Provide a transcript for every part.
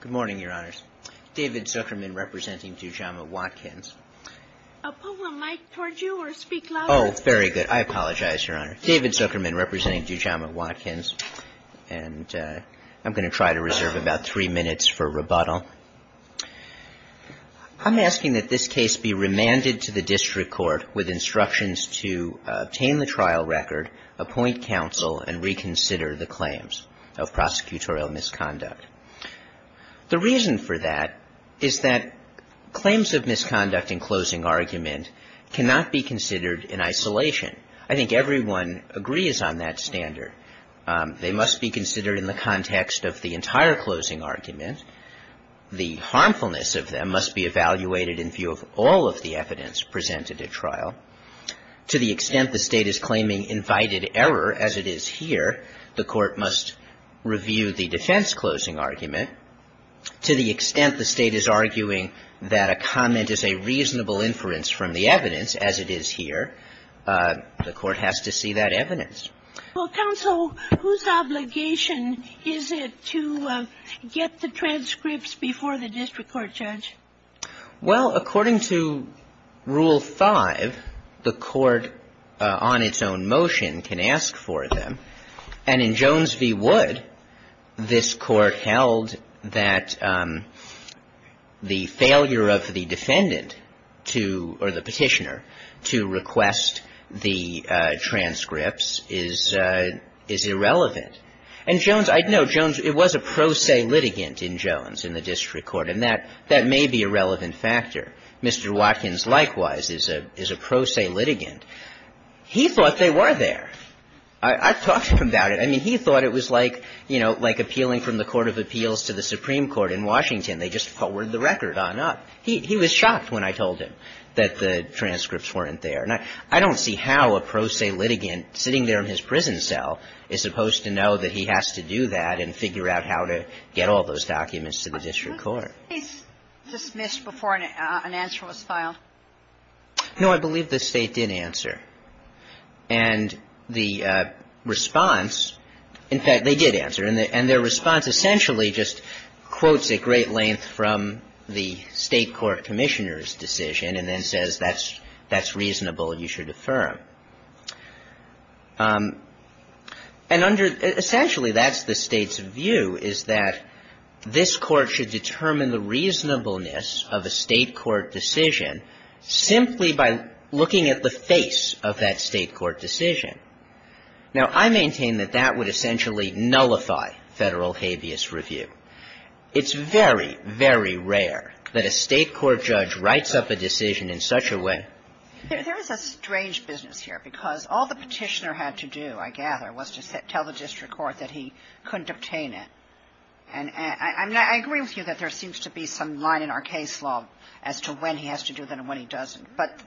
Good morning, Your Honors. David Zuckerman, representing Dujama Watkins. Pull the mic toward you or speak louder? Oh, very good. I apologize, Your Honor. David Zuckerman, representing Dujama Watkins. And I'm going to try to reserve about three minutes for rebuttal. I'm asking that this case be remanded to the district court with instructions to obtain the trial record, appoint counsel, and reconsider the claims of prosecutorial misconduct. The reason for that is that claims of misconduct in closing argument cannot be considered in isolation. I think everyone agrees on that standard. They must be considered in the context of the entire closing argument. The harmfulness of them must be evaluated in view of all of the evidence presented at trial. To the extent the State is claiming invited error, as it is here, the court must review the defense closing argument. To the extent the State is arguing that a comment is a reasonable inference from the evidence, as it is here, the court has to see that evidence. Well, counsel, whose obligation is it to get the transcripts before the district court judge? Well, according to Rule 5, the court on its own motion can ask for them. And in Jones v. Wood, this Court held that the failure of the defendant to or the petitioner to request the transcripts is irrelevant. And Jones – no, Jones – it was a pro se litigant in Jones in the district court, and that may be a relevant factor. Mr. Watkins, likewise, is a pro se litigant. He thought they were there. I've talked to him about it. I mean, he thought it was like, you know, like appealing from the Court of Appeals to the Supreme Court in Washington. They just forwarded the record on up. He was shocked when I told him that the transcripts weren't there. And I don't see how a pro se litigant sitting there in his prison cell is supposed to know that he has to do that and figure out how to get all those documents to the district court. Was the case dismissed before an answer was filed? No, I believe the State did answer. And the response – in fact, they did answer. And their response essentially just quotes at great length from the State court commissioner's And under – essentially, that's the State's view, is that this court should determine the reasonableness of a State court decision simply by looking at the face of that State court decision. Now, I maintain that that would essentially nullify Federal habeas review. It's very, very rare that a State court judge writes up a decision in such a way There is a strange business here, because all the Petitioner had to do, I gather, was to tell the district court that he couldn't obtain it. And I agree with you that there seems to be some line in our case law as to when he has to do that and when he doesn't. But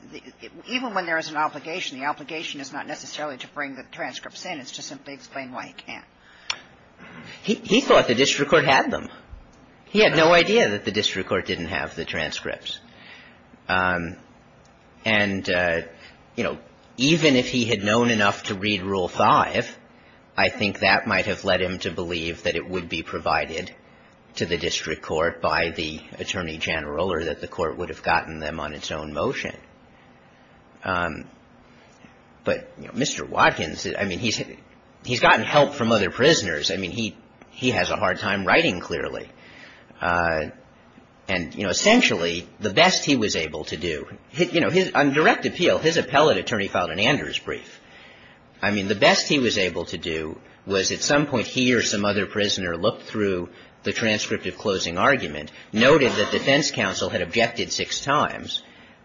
even when there is an obligation, the obligation is not necessarily to bring the transcripts in. It's to simply explain why he can't. He thought the district court had them. He had no idea that the district court didn't have the transcripts. And, you know, even if he had known enough to read Rule 5, I think that might have led him to believe that it would be provided to the district court by the Attorney General or that the court would have gotten them on its own motion. But, you know, Mr. Watkins, I mean, he's gotten help from other prisoners. I mean, he has a hard time writing clearly. And, you know, essentially, the best he was able to do, you know, on direct appeal, his appellate attorney filed an Anders brief. I mean, the best he was able to do was at some point he or some other prisoner looked through the transcript of closing argument, noted that defense counsel had objected six times,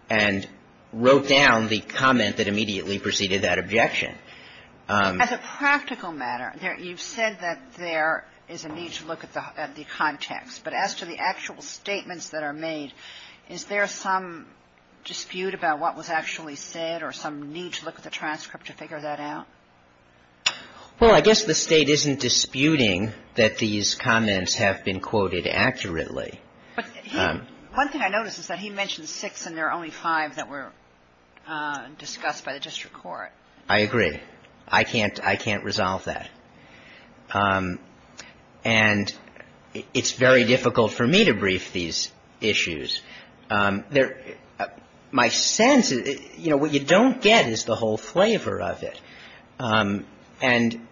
and wrote down the comment that immediately preceded that objection. As a practical matter, you've said that there is a need to look at the context. But as to the actual statements that are made, is there some dispute about what was actually said or some need to look at the transcript to figure that out? Well, I guess the State isn't disputing that these comments have been quoted accurately. But one thing I noticed is that he mentioned six and there are only five that were discussed by the district court. I agree. I can't resolve that. And it's very difficult for me to brief these issues. My sense is, you know, what you don't get is the whole flavor of it. And,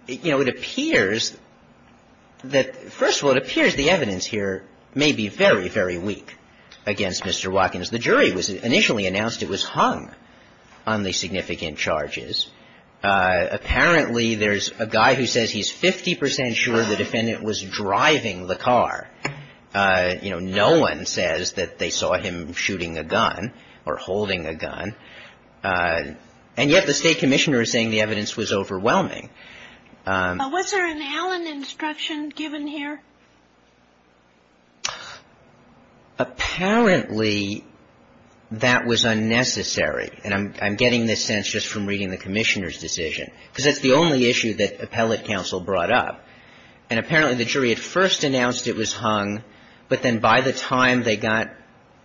you know, it appears that – first of all, it appears the evidence here may be very, very weak against Mr. Watkins. The jury initially announced it was hung on the significant charges. Apparently, there's a guy who says he's 50 percent sure the defendant was driving the car. You know, no one says that they saw him shooting a gun or holding a gun. And yet the State Commissioner is saying the evidence was overwhelming. Was there an Allen instruction given here? Apparently, that was unnecessary. And I'm getting this sense just from reading the Commissioner's decision, because it's the only issue that appellate counsel brought up. And apparently, the jury had first announced it was hung, but then by the time they got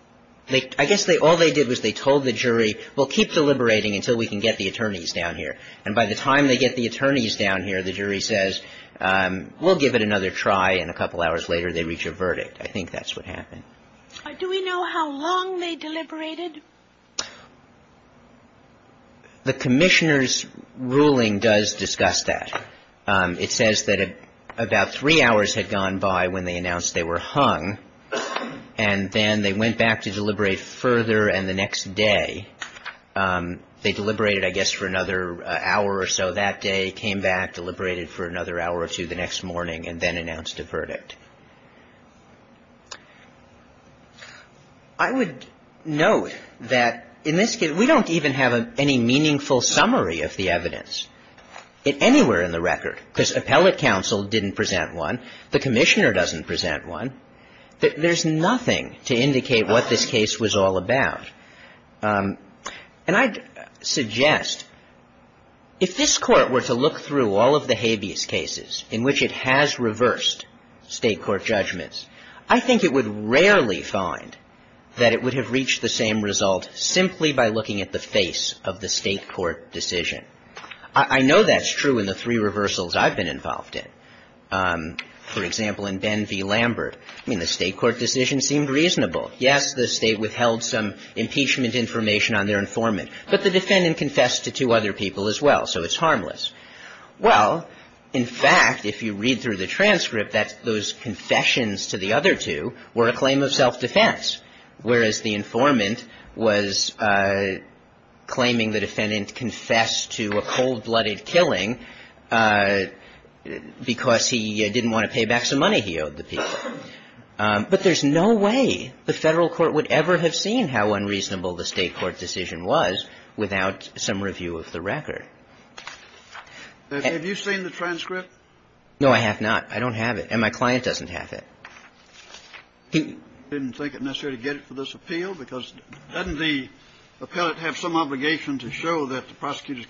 – I guess all they did was they told the jury, we'll keep deliberating until we can get the attorneys down here. And by the time they get the attorneys down here, the jury says, we'll give it another try. And a couple hours later, they reach a verdict. I think that's what happened. Do we know how long they deliberated? The Commissioner's ruling does discuss that. It says that about three hours had gone by when they announced they were hung, and then they went back to deliberate further. And the next day, they deliberated, I guess, for another hour or so. And then that day, came back, deliberated for another hour or two the next morning, and then announced a verdict. I would note that in this case, we don't even have any meaningful summary of the evidence anywhere in the record, because appellate counsel didn't present one, the Commissioner doesn't present one. There's nothing to indicate what this case was all about. And I'd suggest, if this Court were to look through all of the habeas cases in which it has reversed State court judgments, I think it would rarely find that it would have reached the same result simply by looking at the face of the State court decision. I know that's true in the three reversals I've been involved in. For example, in Ben v. Lambert, I mean, the State court decision seemed reasonable. Yes, the State withheld some impeachment information on their informant, but the defendant confessed to two other people as well, so it's harmless. Well, in fact, if you read through the transcript, those confessions to the other two were a claim of self-defense, whereas the informant was claiming the defendant confessed to a cold-blooded killing because he didn't want to pay back some money he owed the people. But there's no way the Federal court would ever have seen how unreasonable the State court decision was without some review of the record. Have you seen the transcript? No, I have not. I don't have it. And my client doesn't have it. He didn't think it necessary to get it for this appeal because doesn't the appellate have some obligation to show that the prosecutor's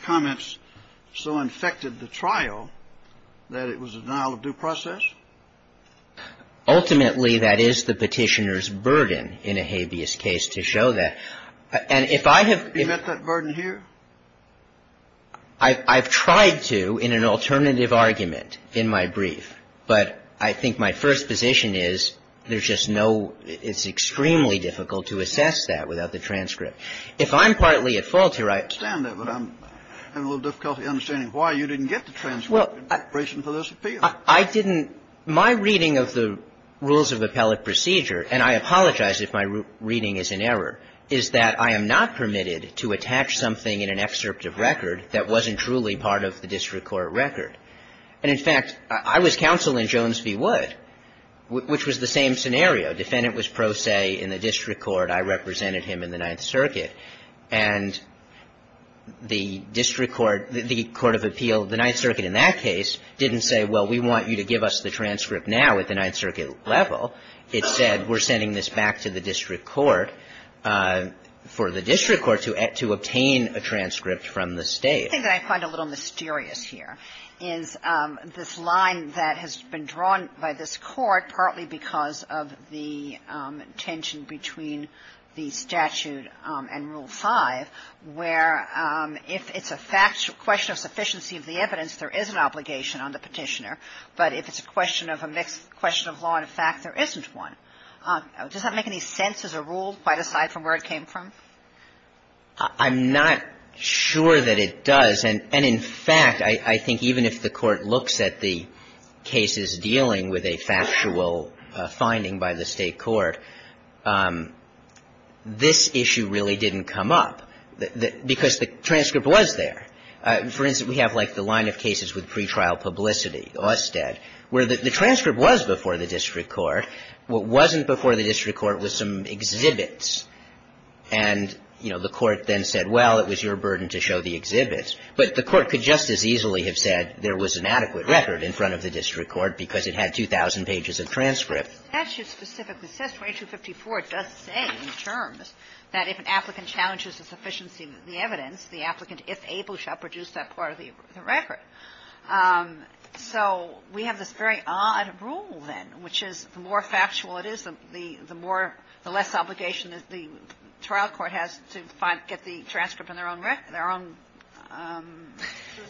so infected the trial that it was a denial of due process? Ultimately, that is the Petitioner's burden in a habeas case to show that. And if I have been at that burden here, I've tried to in an alternative argument in my brief, but I think my first position is there's just no – it's extremely difficult to assess that without the transcript. If I'm partly at fault here, I understand that, but I'm having a little difficulty understanding why you didn't get the transcript in preparation for this appeal. I didn't – my reading of the rules of appellate procedure, and I apologize if my reading is in error, is that I am not permitted to attach something in an excerpt of record that wasn't truly part of the district court record. And in fact, I was counsel in Jones v. Wood, which was the same scenario. Defendant was pro se in the district court. I represented him in the Ninth Circuit. And the district court – the court of appeal, the Ninth Circuit in that case, didn't say, well, we want you to give us the transcript now at the Ninth Circuit level. It said, we're sending this back to the district court for the district court to obtain a transcript from the State. I think what I find a little mysterious here is this line that has been drawn by this court, partly because of the tension between the statute and Rule 5, where if it's a question of sufficiency of the evidence, there is an obligation on the Petitioner, but if it's a question of a mixed question of law and fact, there isn't one. Does that make any sense as a rule, quite aside from where it came from? I'm not sure that it does. And in fact, I think even if the Court looks at the cases dealing with a factual finding by the State court, this issue really didn't come up, because the transcript was there. For instance, we have, like, the line of cases with pretrial publicity, Austed, where the transcript was before the district court. What wasn't before the district court was some exhibits. And, you know, the Court then said, well, it was your burden to show the exhibits. But the Court could just as easily have said there was an adequate record in front of the district court, because it had 2,000 pages of transcript. The statute specifically says, 2254, it does say in terms that if an applicant challenges the sufficiency of the evidence, the applicant, if able, shall produce that part of the record. So we have this very odd rule, then, which is the more factual it is, the more the less obligation the trial court has to find, get the transcript on their own record, their own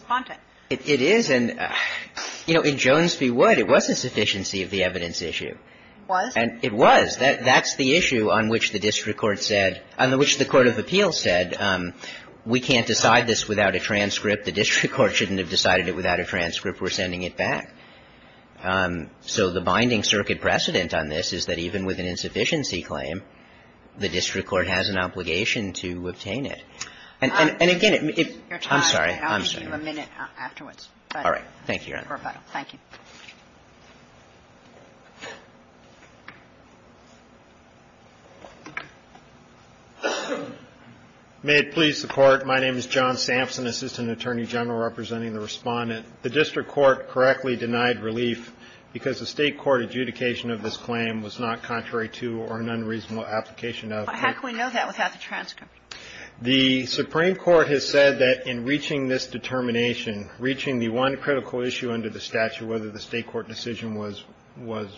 content. It is. And, you know, in Jones v. Wood, it was a sufficiency of the evidence issue. It was? It was. That's the issue on which the district court said, on which the court of appeals said, we can't decide this without a transcript, the district court shouldn't have decided it without a transcript, we're sending it back. So the binding circuit precedent on this is that even with an insufficiency claim, the district court has an obligation to obtain it. And again, if you're tired, I'll give you a minute afterwards. All right. Thank you, Your Honor. Thank you. May it please the Court. My name is John Sampson, Assistant Attorney General, representing the Respondent. The district court correctly denied relief because the State court adjudication of this claim was not contrary to or an unreasonable application of the district court. How can we know that without the transcript? The Supreme Court has said that in reaching this determination, reaching the one critical issue under the statute, whether the State court decision was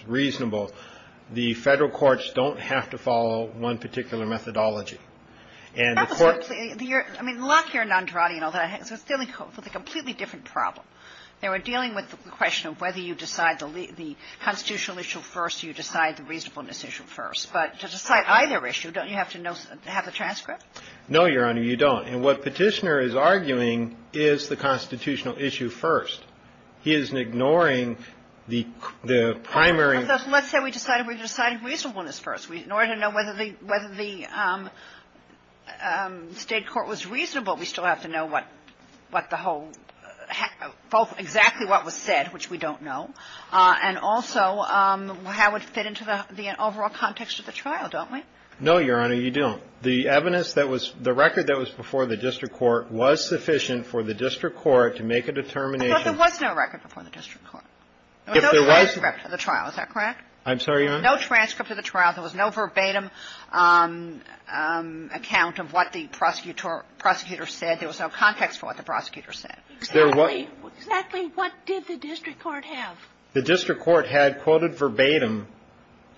reasonable, the Federal courts don't have to follow one particular methodology. And the courts ---- That was the ---- I mean, Locke here and Andrade and all that, they're dealing with a completely different problem. They were dealing with the question of whether you decide the constitutional issue first or you decide the reasonableness issue first. But to decide either issue, don't you have to have the transcript? No, Your Honor, you don't. And what Petitioner is arguing is the constitutional issue first. He isn't ignoring the primary ---- Let's say we decided reasonableness first. In order to know whether the State court was reasonable, we still have to know what the whole ---- exactly what was said, which we don't know, and also how it fit into the overall context of the trial, don't we? No, Your Honor, you don't. The evidence that was ---- the record that was before the district court was sufficient for the district court to make a determination ---- But there was no record before the district court. If there was ---- There was no transcript of the trial. Is that correct? I'm sorry, Your Honor? There was no transcript of the trial. There was no verbatim account of what the prosecutor said. There was no context for what the prosecutor said. Exactly what did the district court have? The district court had quoted verbatim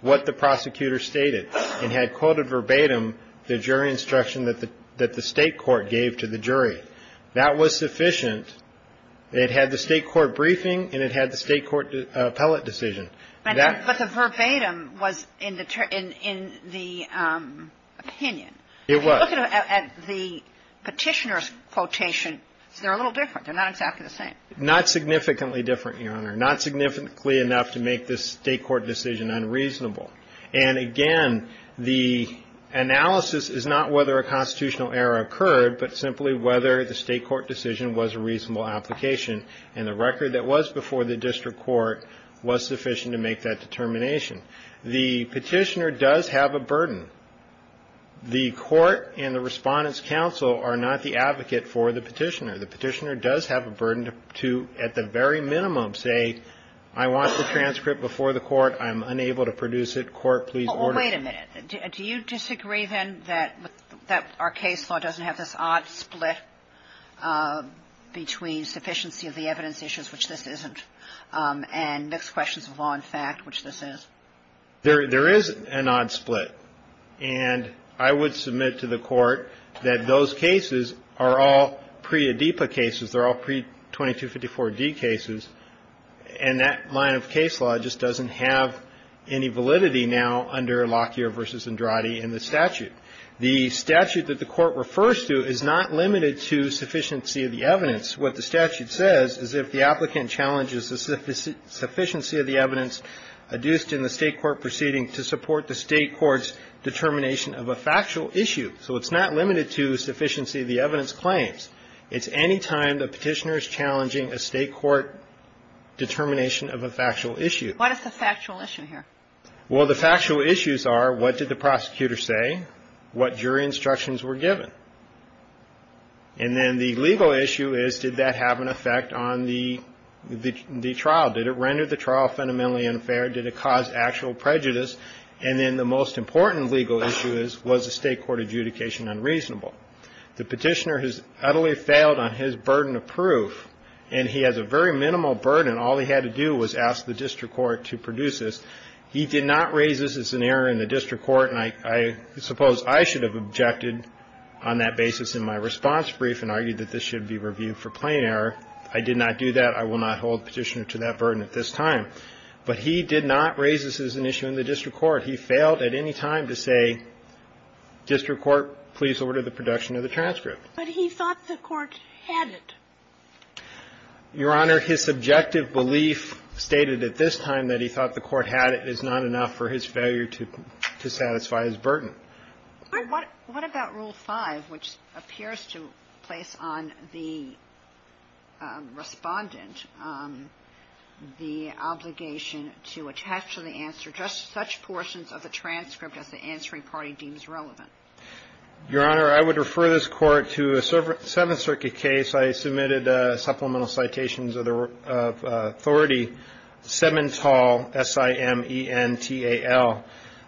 what the prosecutor stated and had quoted verbatim the jury instruction that the State court gave to the jury. That was sufficient. It had the State court briefing and it had the State court appellate decision. But the verbatim was in the opinion. It was. If you look at the petitioner's quotation, they're a little different. They're not exactly the same. Not significantly different, Your Honor. Not significantly enough to make the State court decision unreasonable. And again, the analysis is not whether a constitutional error occurred, but simply whether the State court decision was a reasonable application and the record that was before the district court was sufficient to make that determination. The petitioner does have a burden. The court and the Respondent's counsel are not the advocate for the petitioner. The petitioner does have a burden to, at the very minimum, say I want the transcript before the court. I'm unable to produce it. Court, please order. Well, wait a minute. Do you disagree, then, that our case law doesn't have this odd split between sufficiency of the evidence issues, which this isn't, and mixed questions of law and fact, which this is? There is an odd split. And I would submit to the Court that those cases are all pre-ADIPA cases. They're all pre-2254d cases. And that line of case law just doesn't have any validity now under Lockyer v. Andrade in the statute. The statute that the Court refers to is not limited to sufficiency of the evidence. What the statute says is if the applicant challenges the sufficiency of the evidence adduced in the State court proceeding to support the State court's determination of a factual issue. So it's not limited to sufficiency of the evidence claims. It's any time the petitioner is challenging a State court determination of a factual issue. What is the factual issue here? Well, the factual issues are what did the prosecutor say, what jury instructions were given. And then the legal issue is did that have an effect on the trial? Did it render the trial fundamentally unfair? Did it cause actual prejudice? And then the most important legal issue is was the State court adjudication unreasonable? The petitioner has utterly failed on his burden of proof. And he has a very minimal burden. All he had to do was ask the district court to produce this. He did not raise this as an error in the district court. And I suppose I should have objected on that basis in my response brief and argued that this should be reviewed for plain error. I did not do that. I will not hold the petitioner to that burden at this time. But he did not raise this as an issue in the district court. He failed at any time to say district court, please order the production of the transcript. But he thought the court had it. Your Honor, his subjective belief stated at this time that he thought the court had it is not enough for his failure to satisfy. His burden. What about Rule 5, which appears to place on the respondent the obligation to attach to the answer just such portions of the transcript as the answering party deems relevant? Your Honor, I would refer this court to a Seventh Circuit case. I submitted supplemental citations of the authority. Semental, S-I-M-E-N-T-A-L.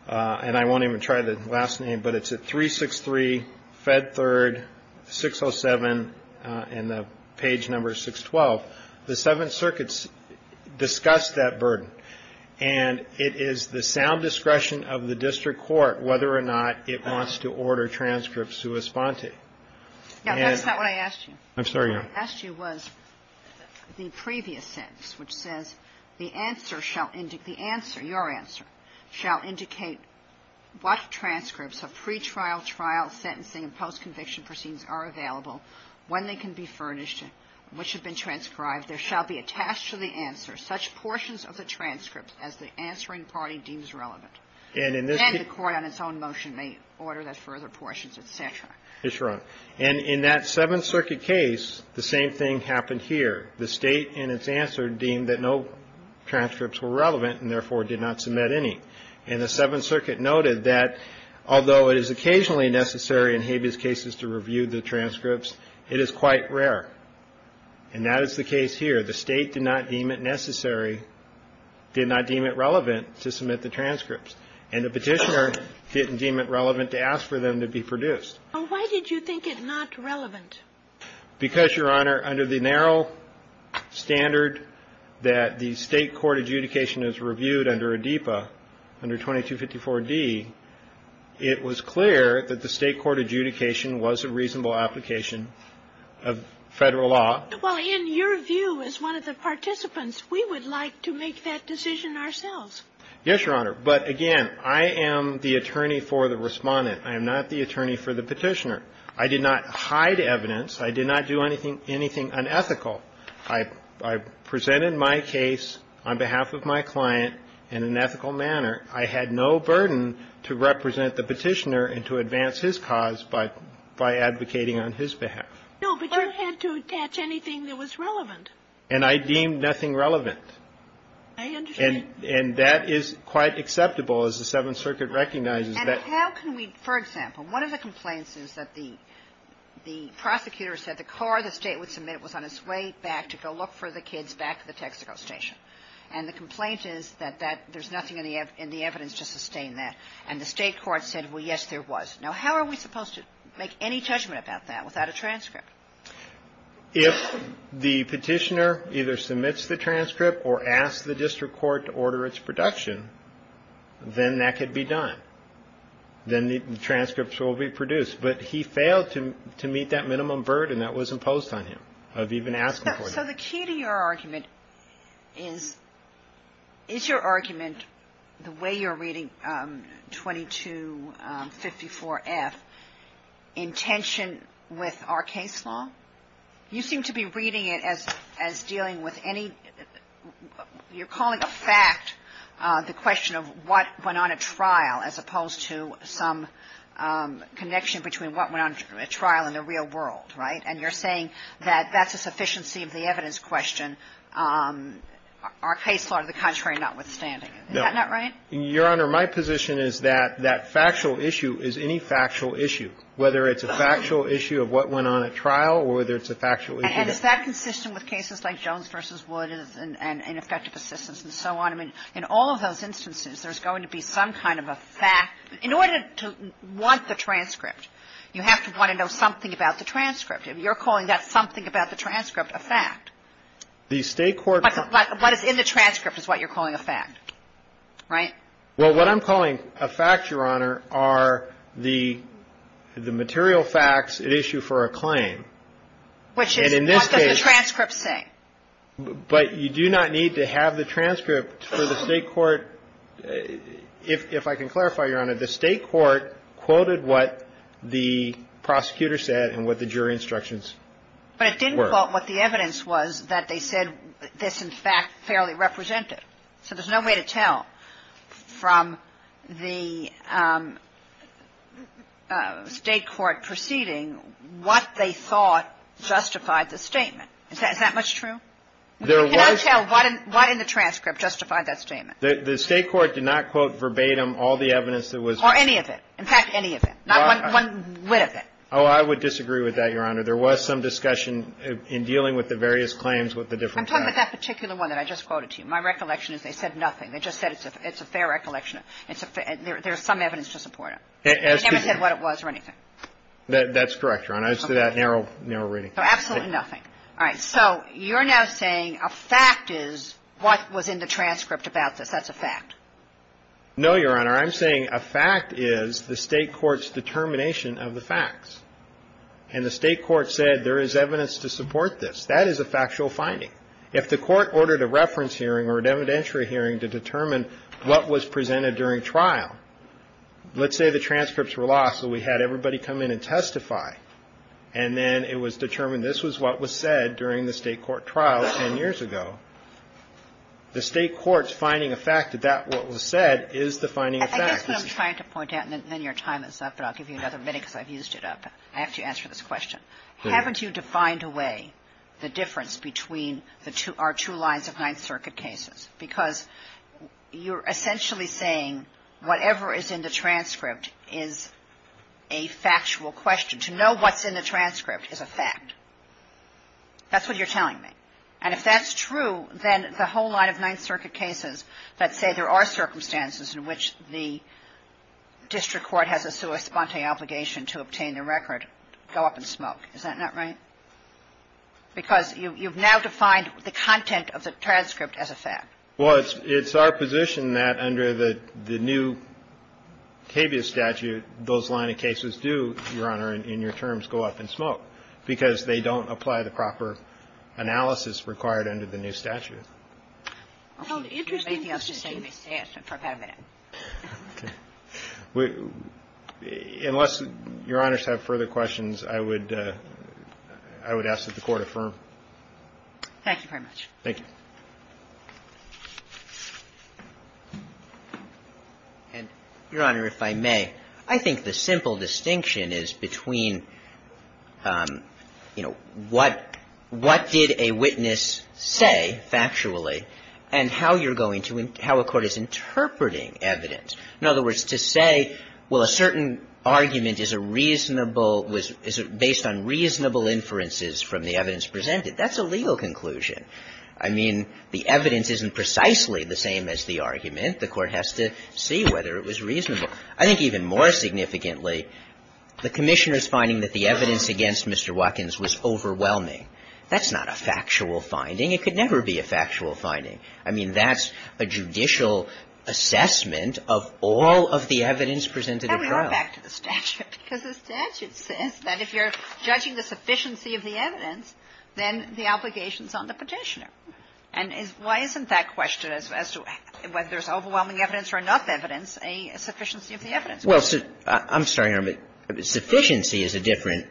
And I won't even try the last name. But it's at 363, Fed Third, 607, and the page number is 612. The Seventh Circuit discussed that burden. And it is the sound discretion of the district court whether or not it wants to order transcripts to respond to. Now, that's not what I asked you. I'm sorry, Your Honor. What I asked you was the previous sentence, which says the answer shall indicate the answer, your answer, shall indicate what transcripts of pretrial, trial, sentencing, and post-conviction proceedings are available, when they can be furnished, which have been transcribed. There shall be attached to the answer such portions of the transcript as the answering party deems relevant. And the court on its own motion may order those further portions, et cetera. Yes, Your Honor. And in that Seventh Circuit case, the same thing happened here. The State in its answer deemed that no transcripts were relevant and, therefore, did not submit any. And the Seventh Circuit noted that although it is occasionally necessary in habeas cases to review the transcripts, it is quite rare. And that is the case here. The State did not deem it necessary, did not deem it relevant to submit the transcripts. And the Petitioner didn't deem it relevant to ask for them to be produced. Well, why did you think it not relevant? Because, Your Honor, under the narrow standard that the State court adjudication is reviewed under ADEPA, under 2254d, it was clear that the State court adjudication was a reasonable application of Federal law. Well, in your view, as one of the participants, we would like to make that decision ourselves. Yes, Your Honor. But, again, I am the attorney for the Respondent. I am not the attorney for the Petitioner. I did not hide evidence. I did not do anything unethical. I presented my case on behalf of my client in an ethical manner. I had no burden to represent the Petitioner and to advance his cause by advocating on his behalf. No, but you had to attach anything that was relevant. And I deemed nothing relevant. I understand. And that is quite acceptable as the Seventh Circuit recognizes that. And how can we, for example, one of the complaints is that the prosecutor said the car the State would submit was on its way back to go look for the kids back at the Texaco station. And the complaint is that there's nothing in the evidence to sustain that. And the State court said, well, yes, there was. Now, how are we supposed to make any judgment about that without a transcript? If the Petitioner either submits the transcript or asks the district court to order its production, then that could be done. Then the transcripts will be produced. But he failed to meet that minimum burden that was imposed on him of even asking for it. So the key to your argument is, is your argument, the way you're reading 2254F, intention with our case law? You seem to be reading it as dealing with any, you're calling a fact the question of what went on at trial as opposed to some connection between what went on at trial in the real world, right? And you're saying that that's a sufficiency of the evidence question, our case law to the contrary, notwithstanding. Is that not right? Your Honor, my position is that that factual issue is any factual issue, whether it's a factual issue of what went on at trial or whether it's a factual issue of the real world. And is that consistent with cases like Jones v. Wood and effective assistance and so on? I mean, in all of those instances, there's going to be some kind of a fact. In order to want the transcript, you have to want to know something about the transcript. If you're calling that something about the transcript, a fact, what is in the transcript is what you're calling a fact, right? Well, what I'm calling a fact, Your Honor, are the material facts at issue for a claim. Which is, what does the transcript say? But you do not need to have the transcript for the State court. If I can clarify, Your Honor, the State court quoted what the prosecutor said and what the jury instructions were. But it didn't quote what the evidence was that they said this, in fact, fairly represented. So there's no way to tell from the State court proceeding what they thought justified the statement. Is that much true? I cannot tell what in the transcript justified that statement. The State court did not quote verbatim all the evidence that was. Or any of it. In fact, any of it. Not one whit of it. Oh, I would disagree with that, Your Honor. There was some discussion in dealing with the various claims with the different facts. I'm talking about that particular one that I just quoted to you. My recollection is they said nothing. They just said it's a fair recollection. There's some evidence to support it. They never said what it was or anything. That's correct, Your Honor. As to that narrow reading. Absolutely nothing. All right. So you're now saying a fact is what was in the transcript about this. That's a fact. No, Your Honor. I'm saying a fact is the State court's determination of the facts. And the State court said there is evidence to support this. That is a factual finding. If the court ordered a reference hearing or an evidentiary hearing to determine what was presented during trial, let's say the transcripts were lost so we had everybody come in and testify. And then it was determined this was what was said during the State court trial 10 years ago. The State court's finding a fact that that what was said is the finding of facts. I guess what I'm trying to point out, and then your time is up, but I'll give you another minute because I've used it up. I have to answer this question. Haven't you defined away the difference between our two lines of Ninth Circuit cases? Because you're essentially saying whatever is in the transcript is a factual question. To know what's in the transcript is a fact. That's what you're telling me. And if that's true, then the whole line of Ninth Circuit cases that say there are circumstances in which the district court has a sua sponte obligation to obtain the record go up in smoke. Is that not right? Because you've now defined the content of the transcript as a fact. Well, it's our position that under the new KBS statute, those line of cases do, Your Honor, in your terms, go up in smoke because they don't apply the proper analysis required under the new statute. Well, the interesting thing is the KBS statute. Okay. Unless Your Honor have further questions, I would ask that the Court affirm. Thank you very much. Thank you. And, Your Honor, if I may, I think the simple distinction is between, you know, what did a witness say factually and how you're going to – how a court is interpreting evidence. In other words, to say, well, a certain argument is a reasonable – is based on reasonable inferences from the evidence presented, that's a legal conclusion. I mean, the evidence isn't precisely the same as the argument. The Court has to see whether it was reasonable. I think even more significantly, the Commissioner's finding that the evidence against Mr. Watkins was overwhelming. That's not a factual finding. It could never be a factual finding. I mean, that's a judicial assessment of all of the evidence presented at trial. And we are back to the statute, because the statute says that if you're judging the sufficiency of the evidence, then the obligation is on the Petitioner. And why isn't that question, as to whether there's overwhelming evidence or enough evidence, a sufficiency of the evidence? Well, I'm sorry, Your Honor, but sufficiency is a different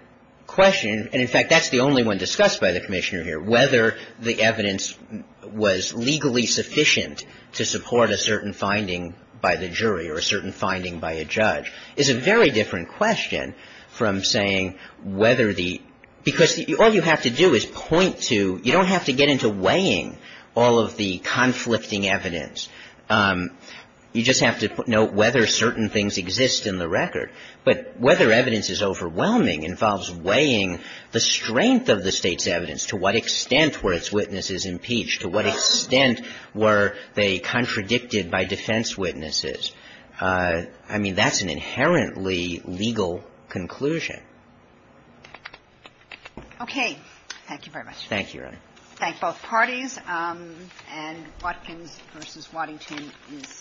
question. And in fact, that's the only one discussed by the Commissioner here. Whether the evidence was legally sufficient to support a certain finding by the jury or a certain finding by a judge is a very different question from saying whether the – because all you have to do is point to – you don't have to get into weighing all of the conflicting evidence. You just have to note whether certain things exist in the record. But whether evidence is overwhelming involves weighing the strength of the State's evidence, to what extent were its witnesses impeached, to what extent were they contradicted by defense witnesses. I mean, that's an inherently legal conclusion. Thank you very much. Thank you, Your Honor. Thank both parties. And Watkins v. Waddington is adjourned.